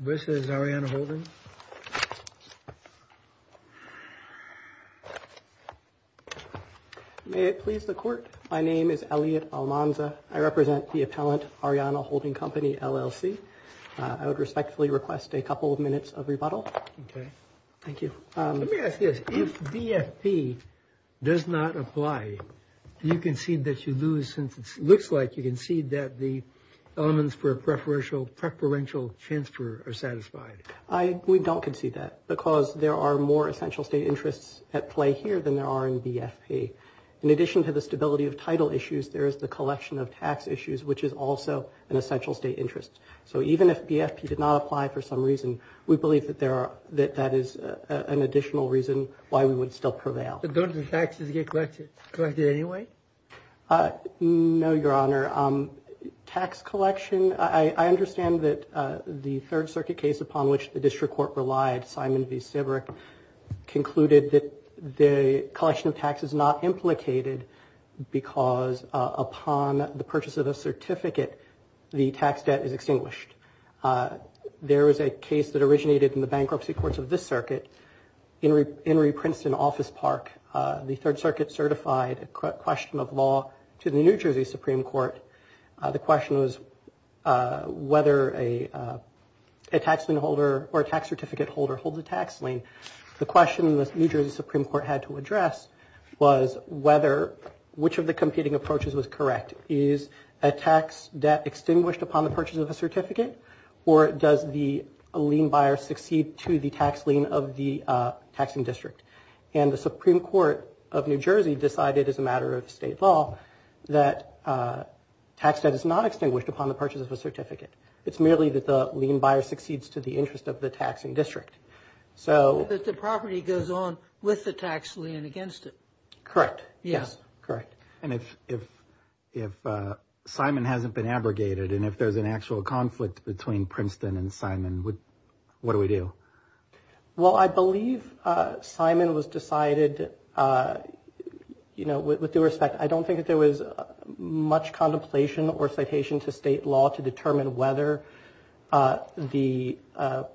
This is Arianna Holden. May it please the court. My name is Elliot Almanza. I represent the appellant, Arianna Holding Company LLC. I would respectfully request a couple of minutes of rebuttal. Thank you. Let me ask you this. If DFP does not apply, do you concede that you lose, since it looks like you concede that the elements for a preferential transfer are satisfied? We don't concede that, because there are more essential state interests at play here than there are in DFP. In addition to the stability of title issues, there is the collection of tax issues, which is also an essential state interest. So even if DFP did not apply for some reason, we believe that that is an additional reason why we would still prevail. But don't the taxes get collected anyway? No, Your Honor. Tax collection. I understand that the Third Circuit case upon which the district court relied, Simon v. Sibrick, concluded that the collection of tax is not implicated because upon the purchase of a certificate, the tax debt is extinguished. There is a case that originated in the bankruptcy courts of this circuit, Henry Princeton Office Park. The Third Circuit certified a question of law to the New Jersey Supreme Court. The question was whether a tax lien holder or a tax certificate holder holds a tax lien. The question the New Jersey Supreme Court had to address was whether which of the competing approaches was correct. Is a tax debt extinguished upon the purchase of a certificate? Or does the lien buyer succeed to the tax lien of the taxing district? And the Supreme Court of New Jersey decided as a matter of state law that tax debt is not extinguished upon the purchase of a certificate. It's merely that the lien buyer succeeds to the interest of the taxing district. So the property goes on with the tax lien against it. Correct. Yes. Correct. And if if if Simon hasn't been abrogated and if there's an actual conflict between Princeton and Simon, what do we do? Well, I believe Simon was decided, you know, with due respect. I don't think that there was much contemplation or citation to state law to determine whether the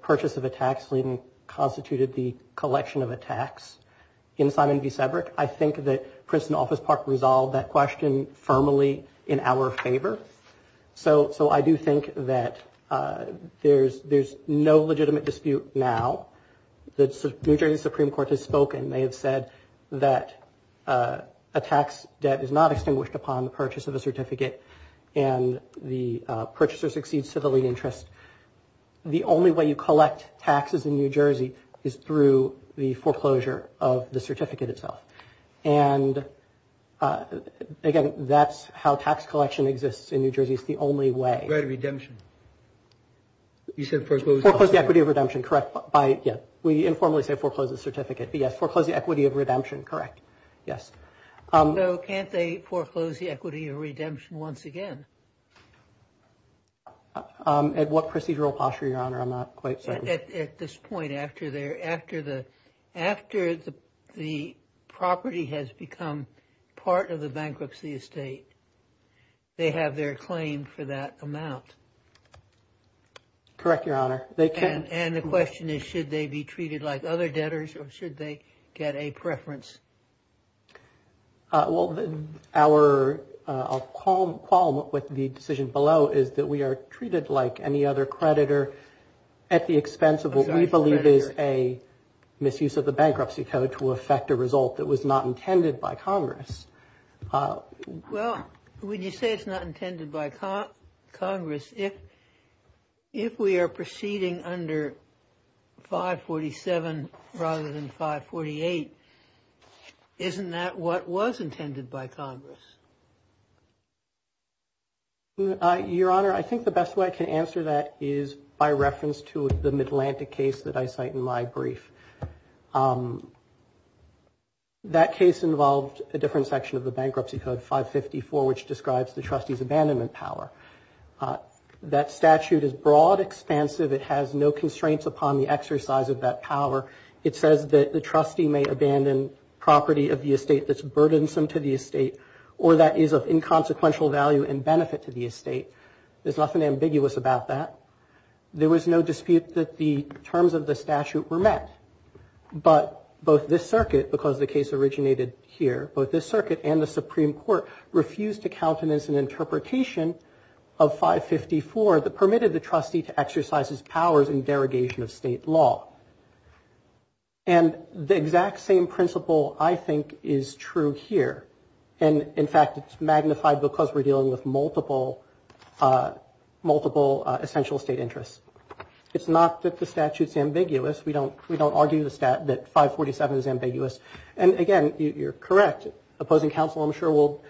purchase of a tax lien constituted the collection of a tax. In Simon v. Sebrick, I think that Princeton Office Park resolved that question firmly in our favor. So so I do think that there's there's no legitimate dispute now. The New Jersey Supreme Court has spoken. They have said that a tax debt is not extinguished upon the purchase of a certificate and the purchaser succeeds to the lien interest. The only way you collect taxes in New Jersey is through the foreclosure of the certificate itself. And again, that's how tax collection exists in New Jersey. It's the only way. Redemption. You said foreclose the equity of redemption. Correct. Yeah. We informally say foreclose the certificate. Yes. Foreclose the equity of redemption. Correct. Yes. So can't they foreclose the equity of redemption once again? At what procedural posture, Your Honor? I'm not quite certain. At this point, after the property has become part of the bankruptcy estate, they have their claim for that amount. Correct, Your Honor. And the question is, should they be treated like other debtors or should they get a preference? Well, our qualm with the decision below is that we are treated like any other creditor at the expense of what we believe is a misuse of the bankruptcy code to affect a result that was not intended by Congress. Well, when you say it's not intended by Congress, if we are proceeding under 547 rather than 548, isn't that what was intended by Congress? Your Honor, I think the best way I can answer that is by reference to the Midlantic case that I cite in my brief. That case involved a different section of the bankruptcy code, 554, which describes the trustee's abandonment power. That statute is broad, expansive. It has no constraints upon the exercise of that power. It says that the trustee may abandon property of the estate that's burdensome to the estate or that is of inconsequential value and benefit to the estate. There's nothing ambiguous about that. There was no dispute that the terms of the statute were met, but both this circuit, because the case originated here, both this circuit and the Supreme Court refused to count it as an interpretation of 554 that permitted the trustee to exercise his powers in derogation of state law. And the exact same principle, I think, is true here. And, in fact, it's magnified because we're dealing with multiple essential state interests. It's not that the statute's ambiguous. We don't argue that 547 is ambiguous. And, again, you're correct. Opposing counsel, I'm sure, will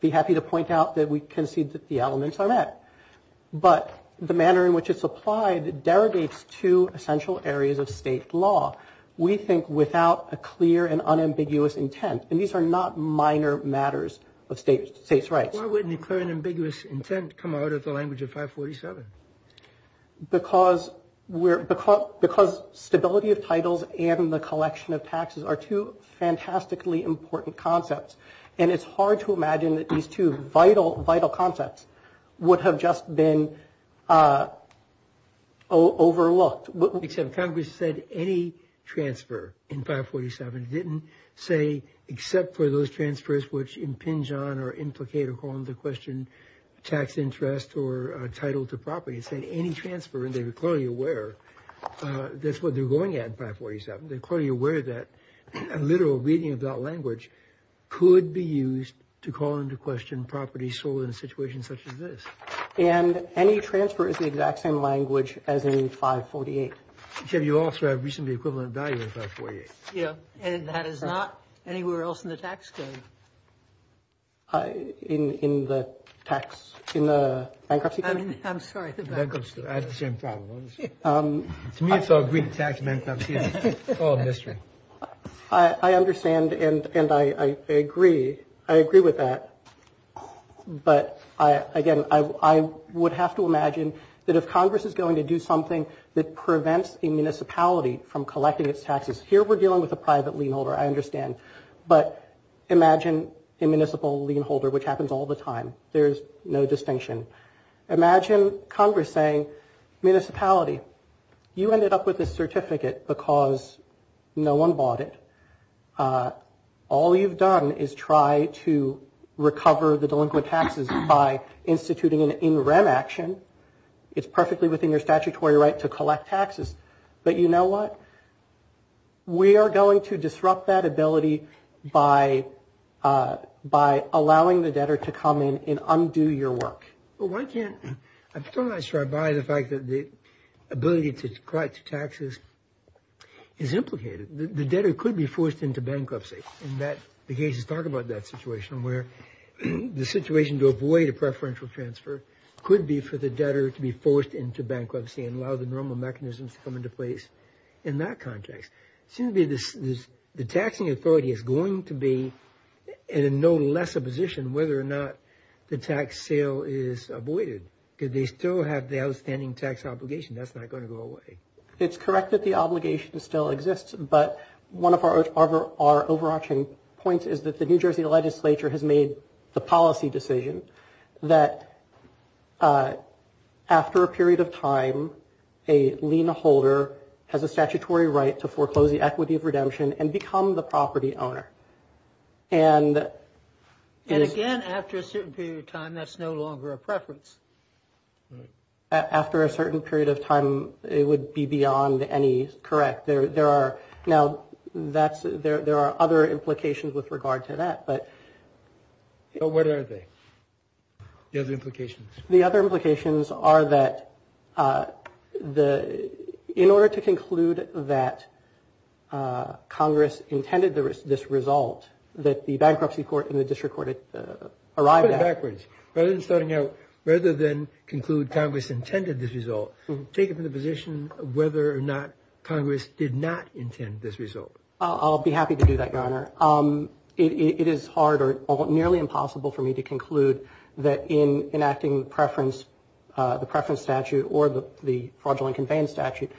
be happy to point out that we concede that the elements are met. But the manner in which it's applied derogates to essential areas of state law, we think, without a clear and unambiguous intent. And these are not minor matters of states' rights. Why wouldn't a clear and ambiguous intent come out of the language of 547? Because stability of titles and the collection of taxes are two fantastically important concepts. And it's hard to imagine that these two vital, vital concepts would have just been overlooked. Congress said any transfer in 547. It didn't say except for those transfers which impinge on or implicate or call into question tax interest or title to property. It said any transfer. And they were clearly aware that's what they're going at in 547. They're clearly aware that a literal reading of that language could be used to call into question property sold in a situation such as this. And any transfer is the exact same language as in 548. You also have reasonably equivalent value in 548. Yeah. And that is not anywhere else in the tax code. In the tax, in the bankruptcy? I'm sorry, the bankruptcy. I had the same problem. To me, it's all green tax and bankruptcy. It's all a mystery. I understand and I agree. I agree with that. But, again, I would have to imagine that if Congress is going to do something that prevents a municipality from collecting its taxes, here we're dealing with a private lien holder, I understand. But imagine a municipal lien holder, which happens all the time. There's no distinction. Imagine Congress saying, municipality, you ended up with this certificate because no one bought it. All you've done is try to recover the delinquent taxes by instituting an in rem action. It's perfectly within your statutory right to collect taxes. But you know what? We are going to disrupt that ability by allowing the debtor to come in and undo your work. Well, why can't, I'm still not sure I buy the fact that the ability to collect taxes is implicated. The debtor could be forced into bankruptcy. The cases talk about that situation where the situation to avoid a preferential transfer could be for the debtor to be forced into bankruptcy and allow the normal mechanisms to come into place in that context. It seems to me the taxing authority is going to be in no lesser position whether or not the tax sale is avoided. They still have the outstanding tax obligation. That's not going to go away. It's correct that the obligation still exists, but one of our overarching points is that the New Jersey legislature has made the policy decision that after a period of time, a lien holder has a statutory right to foreclose the equity of redemption and become the property owner. And again, after a certain period of time, that's no longer a preference. Right. After a certain period of time, it would be beyond any correct. Now, there are other implications with regard to that. What are they, the other implications? The other implications are that in order to conclude that Congress intended this result, that the bankruptcy court and the district court arrived at. Let's go backwards. Rather than starting out, rather than conclude Congress intended this result, take it from the position of whether or not Congress did not intend this result. I'll be happy to do that, Your Honor. It is hard or nearly impossible for me to conclude that in enacting the preference statute or the fraudulent conveyance statute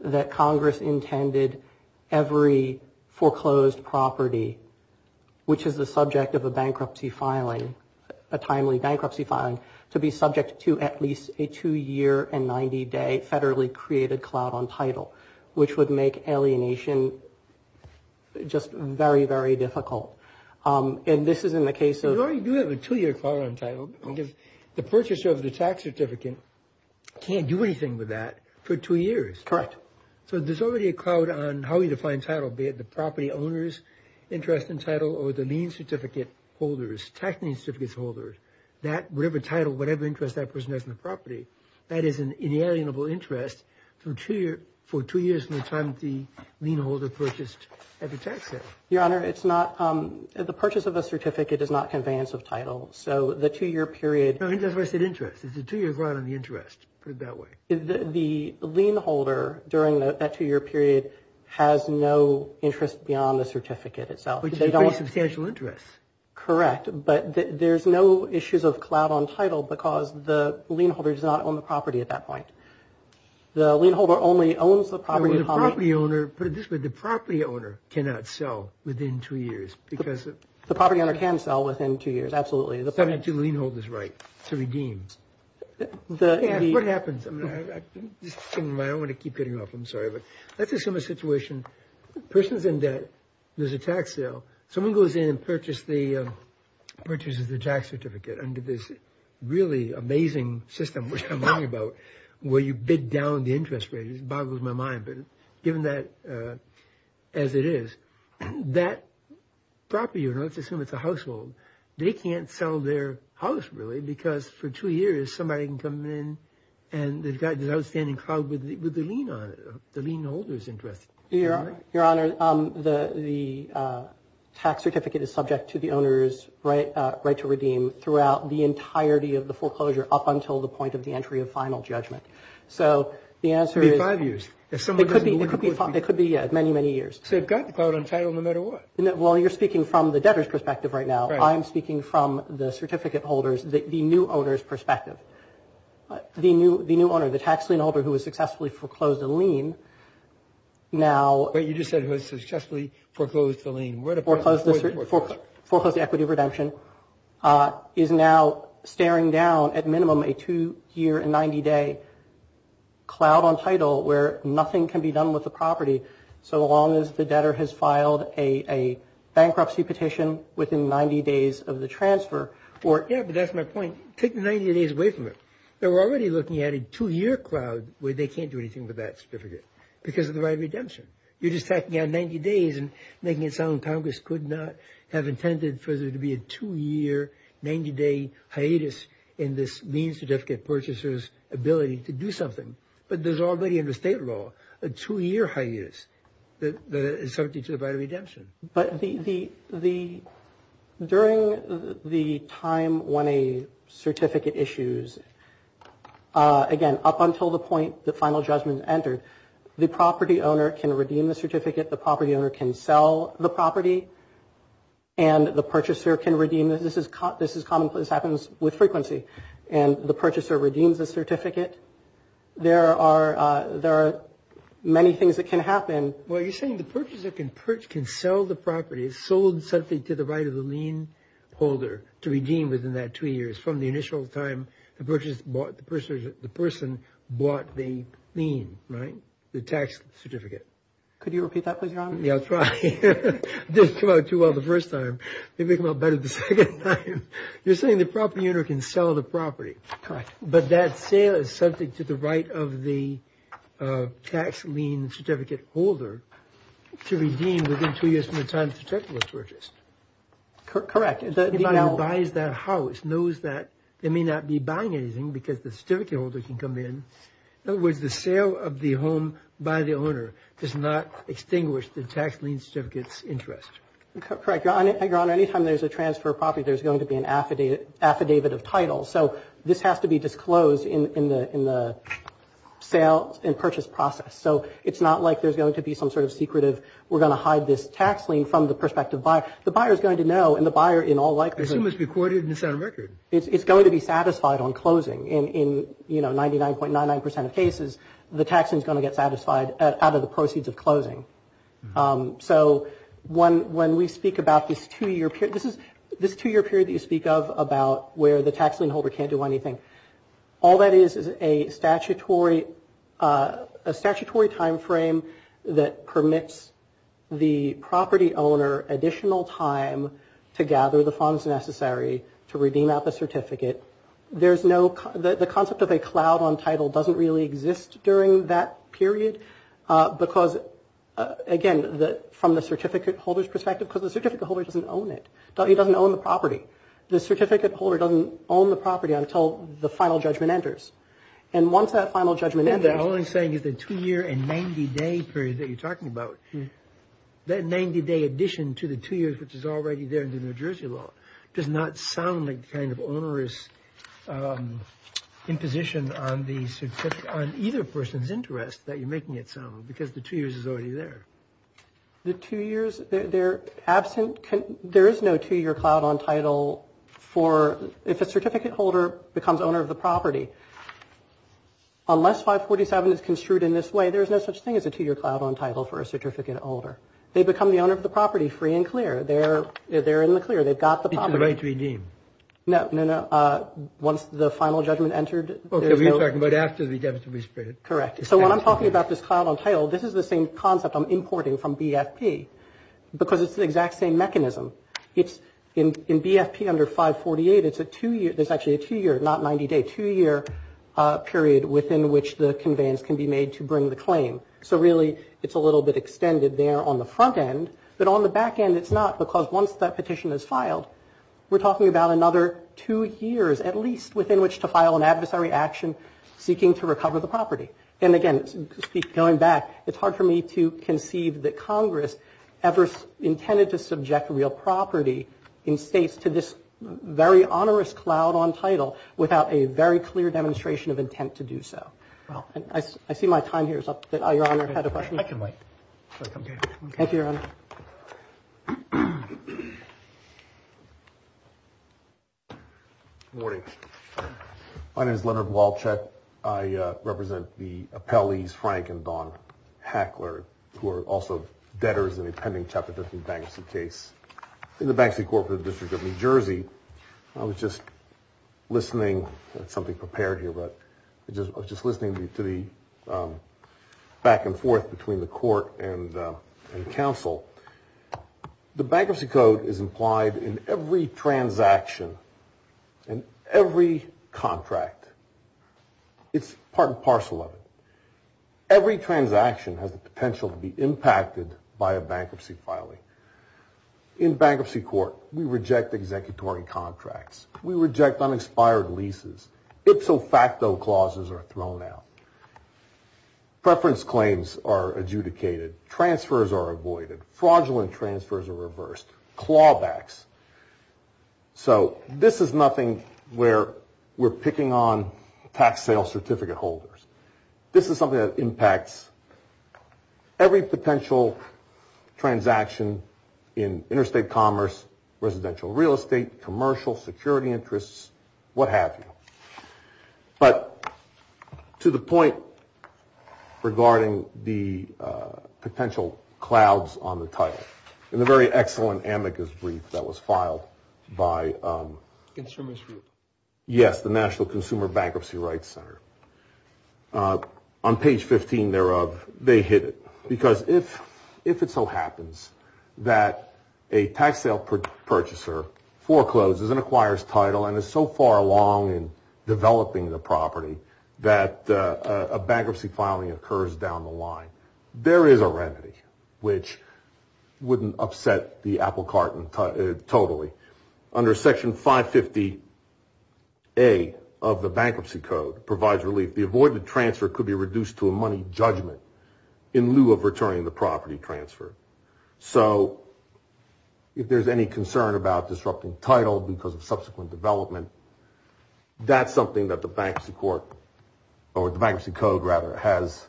that Congress intended every foreclosed property, which is the subject of a bankruptcy filing, a timely bankruptcy filing, to be subject to at least a two-year and 90-day federally created cloud on title, which would make alienation just very, very difficult. And this is in the case of – You already do have a two-year cloud on title because the purchaser of the tax certificate can't do anything with that for two years. Correct. So there's already a cloud on how we define title, be it the property owner's interest in title or the lien certificate holders, tax lien certificate holders. Whatever title, whatever interest that person has in the property, that is an inalienable interest for two years from the time the lien holder purchased every tax set. Your Honor, it's not – the purchase of a certificate is not conveyance of title. So the two-year period – No, that's where I said interest. It's a two-year ground on the interest. Put it that way. The lien holder during that two-year period has no interest beyond the certificate itself. Which is a very substantial interest. Correct. But there's no issues of cloud on title because the lien holder does not own the property at that point. The lien holder only owns the property – The property owner – put it this way. The property owner cannot sell within two years because – The property owner can sell within two years, absolutely. The lien holder's right to redeem. What happens? I don't want to keep getting off. I'm sorry. But let's assume a situation. The person's in debt. There's a tax sale. Someone goes in and purchases the tax certificate under this really amazing system, which I'm learning about, where you bid down the interest rate. It boggles my mind. But given that as it is, that property owner – let's assume it's a household. They can't sell their house, really, because for two years somebody can come in and they've got this outstanding cloud with the lien on it. The lien holder's interested. Your Honor, the tax certificate is subject to the owner's right to redeem throughout the entirety of the foreclosure up until the point of the entry of final judgment. So the answer is – It'd be five years. It could be many, many years. So they've got the cloud on title no matter what. Well, you're speaking from the debtor's perspective right now. I'm speaking from the certificate holder's, the new owner's perspective. The new owner, the tax lien holder who has successfully foreclosed the lien, now – Wait, you just said who has successfully foreclosed the lien. Foreclosed the equity of redemption, is now staring down at minimum a two-year and 90-day cloud on title where nothing can be done with the property so long as the debtor has filed a bankruptcy petition within 90 days of the transfer. Yeah, but that's my point. Take the 90 days away from it. They're already looking at a two-year cloud where they can't do anything with that certificate because of the right of redemption. You're just tacking on 90 days and making it sound like Congress could not have intended for there to be a two-year, 90-day hiatus in this lien certificate purchaser's ability to do something. But there's already in the state law a two-year hiatus that is subject to the right of redemption. But the – during the time when a certificate issues, again, up until the point the final judgment is entered, the property owner can redeem the certificate. The property owner can sell the property. And the purchaser can redeem it. This is commonplace. This happens with frequency. And the purchaser redeems the certificate. There are many things that can happen. Well, you're saying the purchaser can sell the property, sold something to the right of the lien holder, to redeem within that two years from the initial time the person bought the lien, right, the tax certificate. Could you repeat that, please, Your Honor? Yeah, I'll try. It didn't come out too well the first time. Maybe it'll come out better the second time. You're saying the property owner can sell the property. Correct. But that sale is subject to the right of the tax lien certificate holder to redeem within two years from the time the certificate was purchased. Correct. The buyer buys that house, knows that they may not be buying anything because the certificate holder can come in. In other words, the sale of the home by the owner does not extinguish the tax lien certificate's interest. Correct. Your Honor, any time there's a transfer of property, there's going to be an affidavit of title. So this has to be disclosed in the sale and purchase process. So it's not like there's going to be some sort of secretive, we're going to hide this tax lien from the prospective buyer. The buyer is going to know, and the buyer in all likelihood. I assume it's recorded and it's on record. It's going to be satisfied on closing. In, you know, 99.99% of cases, the tax lien is going to get satisfied out of the proceeds of closing. So when we speak about this two-year period, this is this two-year period that you speak of about where the tax lien holder can't do anything. All that is is a statutory timeframe that permits the property owner additional time to gather the funds necessary to redeem out the certificate. There's no, the concept of a cloud on title doesn't really exist during that period because, again, from the certificate holder's perspective, because the certificate holder doesn't own it. He doesn't own the property. The certificate holder doesn't own the property until the final judgment enters. And once that final judgment enters. All I'm saying is the two-year and 90-day period that you're talking about, that 90-day addition to the two years which is already there in the New Jersey law does not sound like kind of onerous imposition on the certificate, on either person's interest that you're making it sound because the two years is already there. The two years they're absent. There is no two-year cloud on title for if a certificate holder becomes owner of the property. Unless 547 is construed in this way, there is no such thing as a two-year cloud on title for a certificate holder. They become the owner of the property free and clear. They're there in the clear. They've got the property. It's a right to redeem. No, no, no. Once the final judgment entered. Okay, we're talking about after the deficit was spread. Correct. So when I'm talking about this cloud on title, this is the same concept I'm importing from BFP because it's the exact same mechanism. It's in BFP under 548. It's a two-year. There's actually a two-year, not 90-day. Two-year period within which the conveyance can be made to bring the claim. So, really, it's a little bit extended there on the front end. But on the back end, it's not because once that petition is filed, we're talking about another two years, at least, within which to file an adversary action seeking to recover the property. And, again, going back, it's hard for me to conceive that Congress ever intended to subject real property in states to this very onerous cloud on title without a very clear demonstration of intent to do so. I see my time here is up. Your Honor, had a question? I can wait. Thank you, Your Honor. Good morning. My name is Leonard Walchek. I represent the appellees, Frank and Dawn Hackler, who are also debtors in a pending Chapter 15 bankruptcy case in the Banksy Corporate District of New Jersey. I was just listening. That's something prepared here, but I was just listening to the back and forth between the court and counsel. The bankruptcy code is implied in every transaction and every contract. It's part and parcel of it. Every transaction has the potential to be impacted by a bankruptcy filing. In bankruptcy court, we reject executory contracts. We reject unexpired leases. Ipso facto clauses are thrown out. Preference claims are adjudicated. Transfers are avoided. Fraudulent transfers are reversed. Clawbacks. So this is nothing where we're picking on tax sale certificate holders. This is something that impacts every potential transaction in interstate commerce, residential real estate, commercial security interests, what have you. But to the point regarding the potential clouds on the title, in the very excellent amicus brief that was filed by. Yes, the National Consumer Bankruptcy Rights Center. On page 15 thereof, they hit it. Because if it so happens that a tax sale purchaser forecloses and acquires title and is so far along in developing the property that a bankruptcy filing occurs down the line, there is a remedy which wouldn't upset the apple carton totally. Under Section 550A of the Bankruptcy Code provides relief. The avoided transfer could be reduced to a money judgment in lieu of returning the property transfer. So if there's any concern about disrupting title because of subsequent development, that's something that the Bankruptcy Court or the Bankruptcy Code, rather, has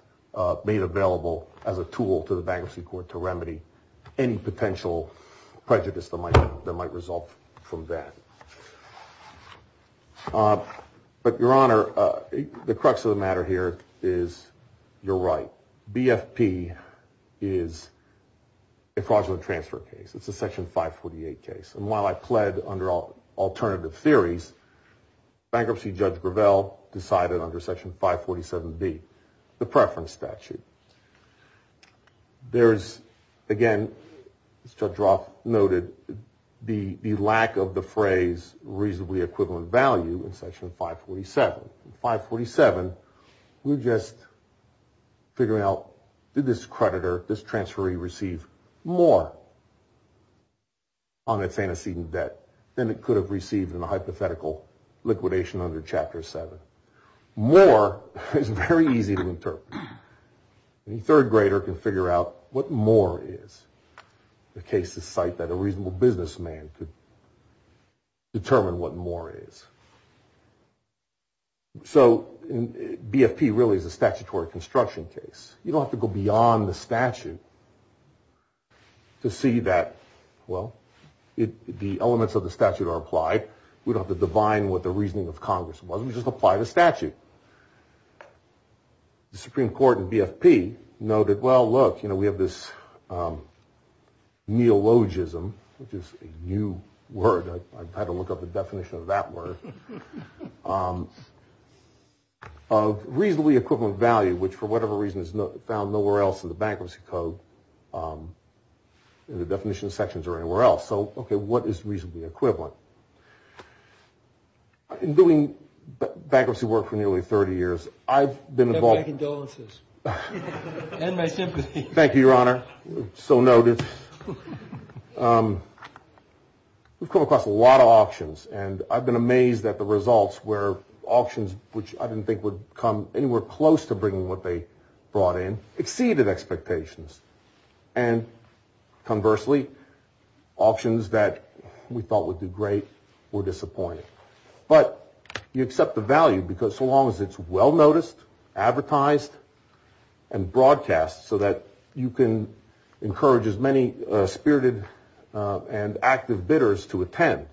made available as a tool to the Bankruptcy Court to remedy any potential prejudice that might result from that. But, Your Honor, the crux of the matter here is you're right. BFP is a fraudulent transfer case. It's a Section 548 case. And while I pled under alternative theories, bankruptcy judge Gravel decided under Section 547B, the preference statute. There's, again, Judge Roth noted, the lack of the phrase reasonably equivalent value in Section 547. In 547, we're just figuring out, did this creditor, this transferee, receive more on its antecedent debt than it could have received in a hypothetical liquidation under Chapter 7? More is very easy to interpret. Any third grader can figure out what more is. The cases cite that a reasonable businessman could determine what more is. So BFP really is a statutory construction case. You don't have to go beyond the statute to see that, well, the elements of the statute are applied. We don't have to divine what the reasoning of Congress was. We just apply the statute. The Supreme Court in BFP noted, well, look, you know, we have this neologism, which is a new word. I had to look up the definition of that word. Of reasonably equivalent value, which for whatever reason is found nowhere else in the bankruptcy code, in the definition sections or anywhere else. So, okay, what is reasonably equivalent? In doing bankruptcy work for nearly 30 years, I've been involved. My condolences. And my sympathy. Thank you, Your Honor. So noted. We've come across a lot of options, and I've been amazed at the results where options, which I didn't think would come anywhere close to bringing what they brought in, exceeded expectations. And conversely, options that we thought would do great were disappointing. But you accept the value because so long as it's well noticed, advertised, and broadcast, so that you can encourage as many spirited and active bidders to attend.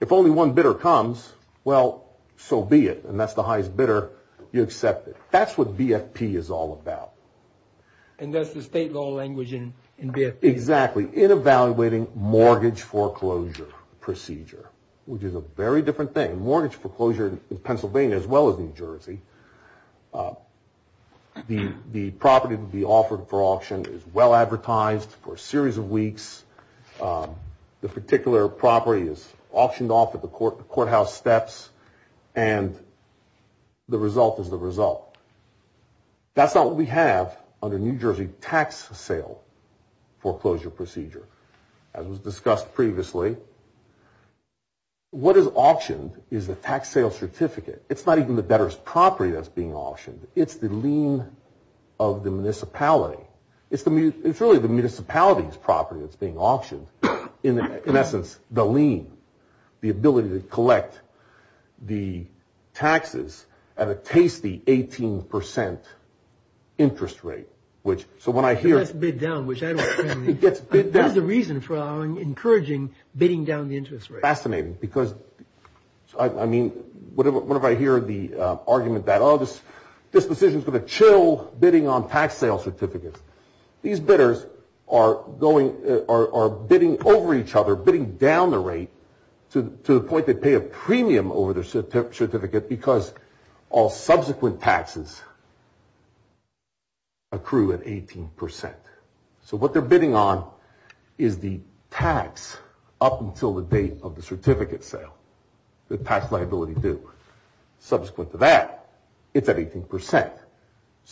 If only one bidder comes, well, so be it. And that's the highest bidder. You accept it. That's what BFP is all about. And that's the state law language in BFP. Exactly. In evaluating mortgage foreclosure procedure, which is a very different thing. Mortgage foreclosure in Pennsylvania, as well as New Jersey, the property to be offered for auction is well advertised for a series of weeks. The particular property is auctioned off at the courthouse steps, and the result is the result. That's not what we have under New Jersey tax sale foreclosure procedure. As was discussed previously, what is auctioned is the tax sale certificate. It's not even the debtor's property that's being auctioned. It's the lien of the municipality. It's really the municipality's property that's being auctioned, in essence, the lien, the ability to collect the taxes at a tasty 18 percent interest rate. So when I hear – It gets bid down, which I don't – It gets bid down. That's the reason for encouraging bidding down the interest rate. Fascinating, because, I mean, whenever I hear the argument that, oh, this decision is going to chill bidding on tax sale certificates, these bidders are going – are bidding over each other, bidding down the rate to the point they pay a premium over their certificate because all subsequent taxes accrue at 18 percent. So what they're bidding on is the tax up until the date of the certificate sale, the tax liability due. Subsequent to that, it's at 18 percent.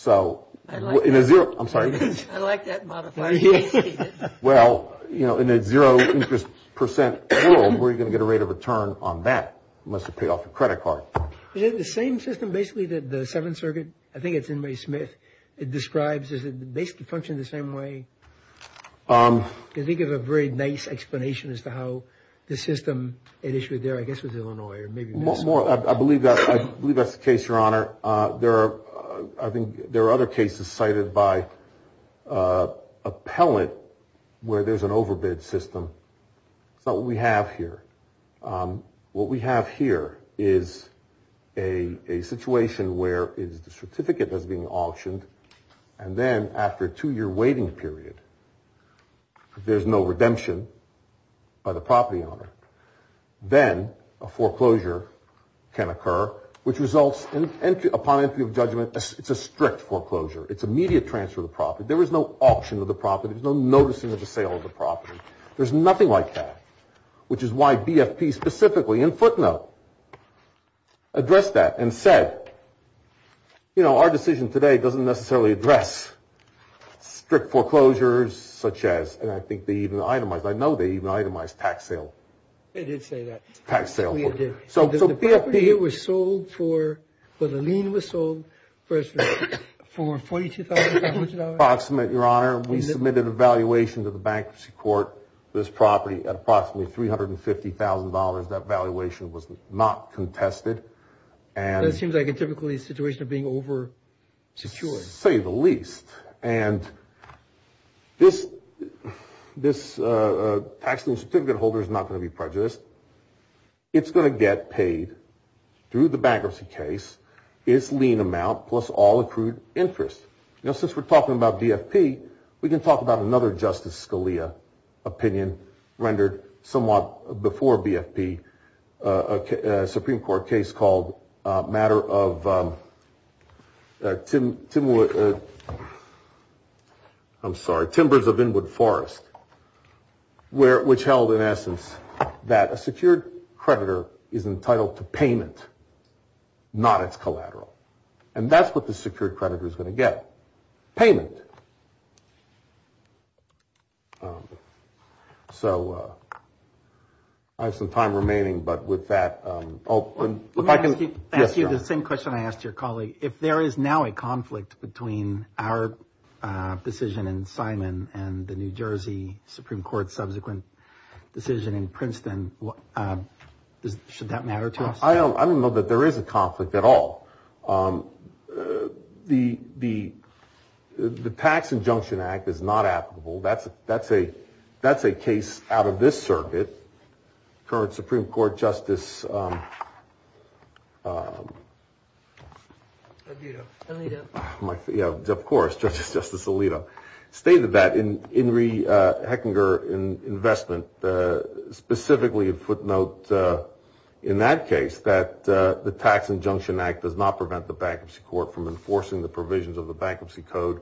I like that. I'm sorry. I like that modification. Well, in a zero interest percent world, where are you going to get a rate of return on that unless you pay off your credit card? Is it the same system, basically, that the Seventh Circuit – I think it's Inmai Smith – it describes, does it basically function the same way? Because they give a very nice explanation as to how the system – it issued there, I guess, was Illinois or maybe Minnesota. I believe that's the case, Your Honor. There are – I think there are other cases cited by appellant where there's an overbid system. That's not what we have here. What we have here is a situation where it's the certificate that's being auctioned, and then after a two-year waiting period, if there's no redemption by the property owner, then a foreclosure can occur, which results in upon entry of judgment, it's a strict foreclosure. It's immediate transfer of the property. There is no auction of the property. There's no noticing of the sale of the property. There's nothing like that, which is why BFP specifically in footnote addressed that and said, you know, our decision today doesn't necessarily address strict foreclosures such as – and I think they even itemized. Tax sale. They did say that. Tax sale. BFP was sold for – the lien was sold for $42,500. Approximate, Your Honor. We submitted a valuation to the bankruptcy court for this property at approximately $350,000. That valuation was not contested. That seems like a typical situation of being over-secured. To say the least, and this tax certificate holder is not going to be prejudiced. It's going to get paid through the bankruptcy case its lien amount plus all accrued interest. You know, since we're talking about BFP, we can talk about another Justice Scalia opinion rendered somewhat before BFP, a Supreme Court case called matter of – I'm sorry, Timbers of Inwood Forest, which held in essence that a secured creditor is entitled to payment, not its collateral. And that's what the secured creditor is going to get, payment. So I have some time remaining, but with that – Let me ask you the same question I asked your colleague. If there is now a conflict between our decision in Simon and the New Jersey Supreme Court subsequent decision in Princeton, should that matter to us? I don't know that there is a conflict at all. The Tax Injunction Act is not applicable. That's a case out of this circuit. Current Supreme Court Justice – Alito. Yeah, of course, Justice Alito. Heckinger investment specifically footnote in that case that the Tax Injunction Act does not prevent the bankruptcy court from enforcing the provisions of the bankruptcy code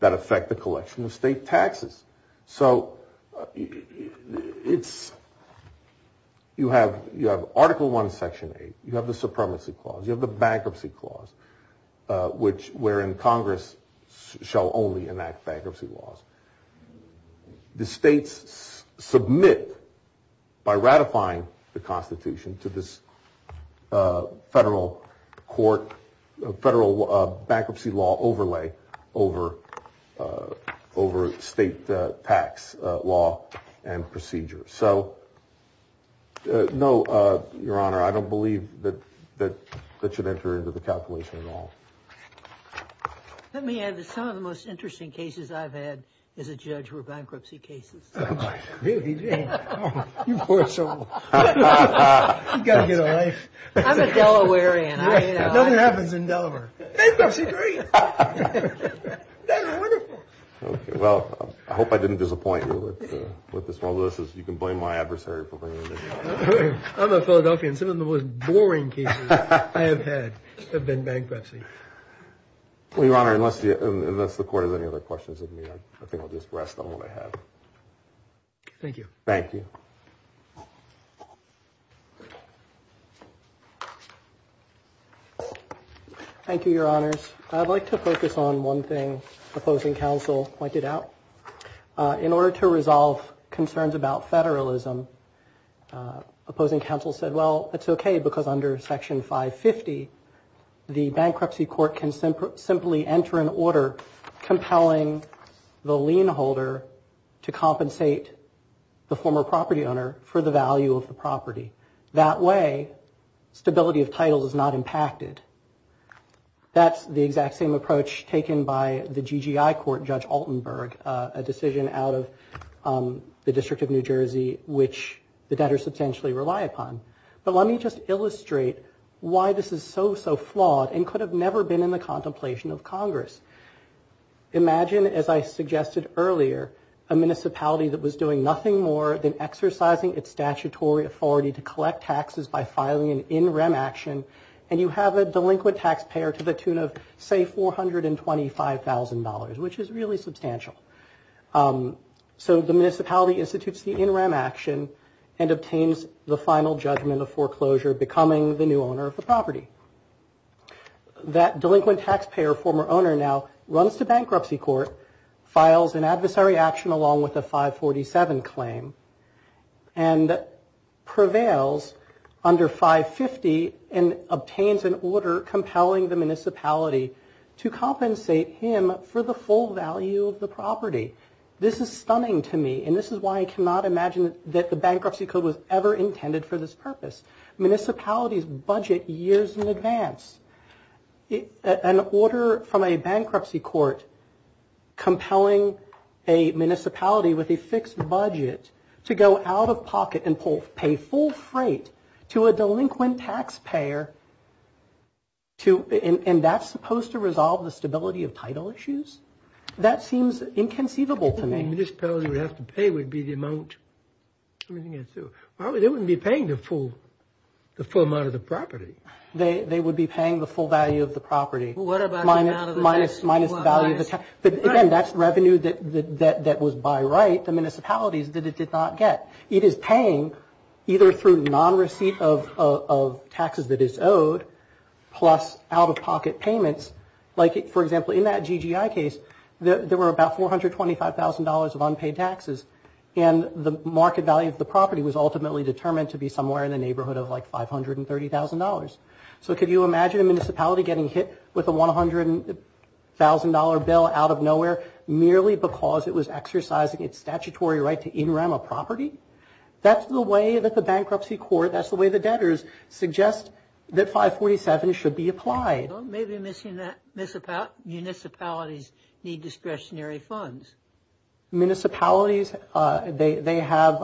that affect the collection of state taxes. So it's – you have Article I, Section 8. You have the supremacy clause. You have the bankruptcy clause, which wherein Congress shall only enact bankruptcy laws. The states submit by ratifying the Constitution to this federal court – federal bankruptcy law overlay over state tax law and procedure. So, no, Your Honor, I don't believe that that should enter into the calculation at all. Let me add that some of the most interesting cases I've had as a judge were bankruptcy cases. Oh, my God. You poor soul. You've got to get a life. I'm a Delawarean. Nothing happens in Delaware. Bankruptcy, great. That's wonderful. Well, I hope I didn't disappoint you with this one. You can blame my adversary for bringing this up. I'm a Philadelphian. Some of the most boring cases I have had have been bankruptcy. Well, Your Honor, unless the court has any other questions of me, I think I'll just rest on what I have. Thank you. Thank you. Thank you, Your Honors. I'd like to focus on one thing Opposing Counsel pointed out. In order to resolve concerns about federalism, Opposing Counsel said, well, it's okay, because under Section 550, the bankruptcy court can simply enter an order compelling the lien holder to compensate the former property owner for the value of the property. That way, stability of title is not impacted. That's the exact same approach taken by the GGI court, Judge Altenberg, a decision out of the District of New Jersey, which the debtors substantially rely upon. But let me just illustrate why this is so, so flawed and could have never been in the contemplation of Congress. Imagine, as I suggested earlier, a municipality that was doing nothing more than exercising its statutory authority to collect taxes by filing an in-rem action, and you have a delinquent taxpayer to the tune of, say, $425,000, which is really substantial. So the municipality institutes the in-rem action and obtains the final judgment of foreclosure, becoming the new owner of the property. That delinquent taxpayer, former owner now, runs to bankruptcy court, files an adversary action along with a 547 claim, and prevails under 550 and obtains an order compelling the municipality to compensate him for the full value of the property. This is stunning to me, and this is why I cannot imagine that the Bankruptcy Code was ever intended for this purpose. Municipalities budget years in advance. An order from a bankruptcy court compelling a municipality with a fixed budget to go out-of-pocket and pay full freight to a delinquent taxpayer, and that's supposed to resolve the stability of title issues? That seems inconceivable to me. The municipality would have to pay would be the amount. They wouldn't be paying the full amount of the property. They would be paying the full value of the property. Minus the value of the tax. Again, that's revenue that was by right to municipalities that it did not get. It is paying either through non-receipt of taxes that is owed, plus out-of-pocket payments. Like, for example, in that GGI case, there were about $425,000 of unpaid taxes, and the market value of the property was ultimately determined to be somewhere in the neighborhood of like $530,000. So could you imagine a municipality getting hit with a $100,000 bill out of nowhere merely because it was exercising its statutory right to in-rem a property? That's the way that the bankruptcy court, that's the way the debtors suggest that 547 should be applied. Maybe municipalities need discretionary funds. Municipalities, they have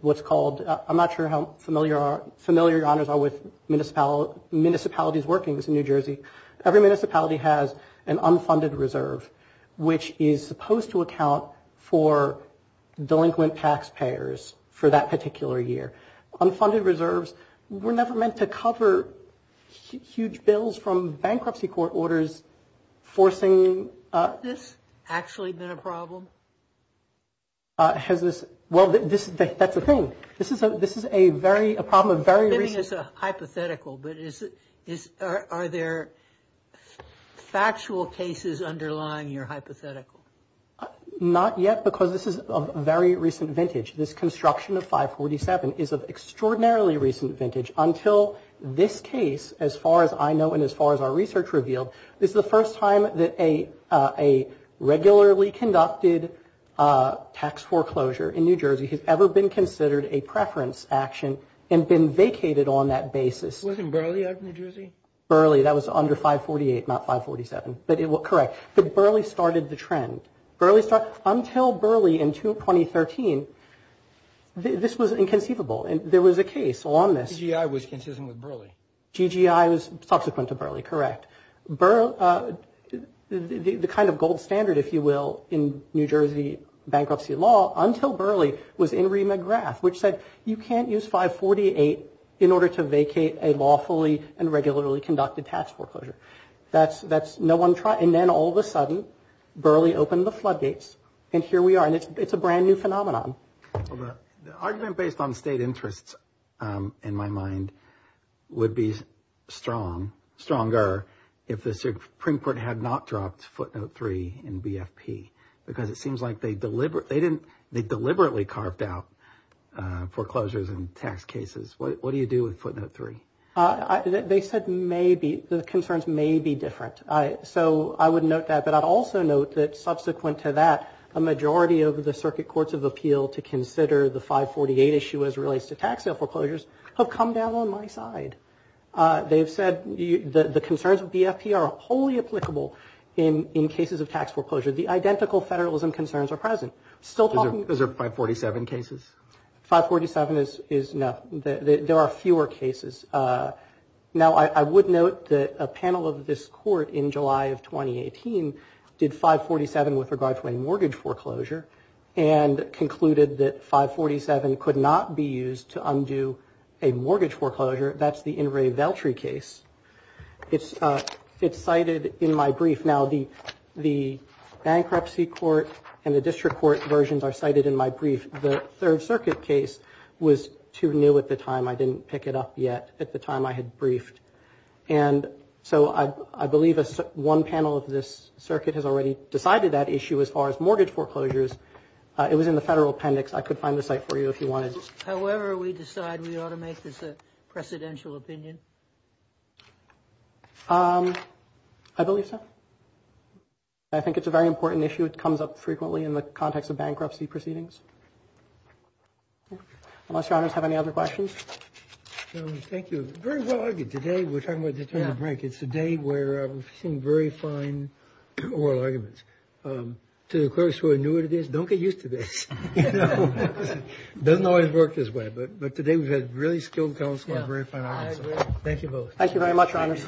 what's called, I'm not sure how familiar your honors are with municipalities workings in New Jersey. Every municipality has an unfunded reserve, which is supposed to account for delinquent taxpayers for that particular year. Unfunded reserves were never meant to cover huge bills from bankruptcy court orders forcing. Has this actually been a problem? Well, that's the thing. This is a problem of very recent. Maybe it's hypothetical, but are there factual cases underlying your hypothetical? Not yet, because this is of very recent vintage. This construction of 547 is of extraordinarily recent vintage until this case, as far as I know and as far as our research revealed, this is the first time that a regularly conducted tax foreclosure in New Jersey has ever been considered a preference action and been vacated on that basis. Wasn't Burley out of New Jersey? Burley, that was under 548, not 547, but correct. Burley started the trend. Until Burley in 2013, this was inconceivable. There was a case on this. GGI was consistent with Burley. GGI was subsequent to Burley, correct. The kind of gold standard, if you will, in New Jersey bankruptcy law, until Burley was in Rima Graf, which said you can't use 548 in order to vacate a lawfully and regularly conducted tax foreclosure. And then all of a sudden, Burley opened the floodgates, and here we are. And it's a brand new phenomenon. The argument based on state interests, in my mind, would be stronger if the Supreme Court had not dropped footnote 3 in BFP because it seems like they deliberately carved out foreclosures in tax cases. What do you do with footnote 3? They said the concerns may be different. So I would note that, but I'd also note that subsequent to that, a majority of the circuit courts of appeal to consider the 548 issue as it relates to tax sale foreclosures have come down on my side. They've said the concerns of BFP are wholly applicable in cases of tax foreclosure. The identical federalism concerns are present. Those are 547 cases? 547 is no. There are fewer cases. Now, I would note that a panel of this court in July of 2018 did 547 with regard to a mortgage foreclosure and concluded that 547 could not be used to undo a mortgage foreclosure. That's the In re Veltri case. It's cited in my brief. Now, the bankruptcy court and the district court versions are cited in my brief. The Third Circuit case was too new at the time. I didn't pick it up yet at the time I had briefed. And so I believe one panel of this circuit has already decided that issue as far as mortgage foreclosures. It was in the federal appendix. I could find the site for you if you wanted. However, we decide we ought to make this a precedential opinion? I believe so. I think it's a very important issue. It comes up frequently in the context of bankruptcy proceedings. Unless Your Honors have any other questions. Thank you. Very well-argued. Today, we're talking about this during the break. It's a day where we've seen very fine oral arguments. To the clerks who are new to this, don't get used to this. It doesn't always work this way, but today we've had really skilled counsel and very fine arguments. Thank you both. Thank you very much, Your Honors.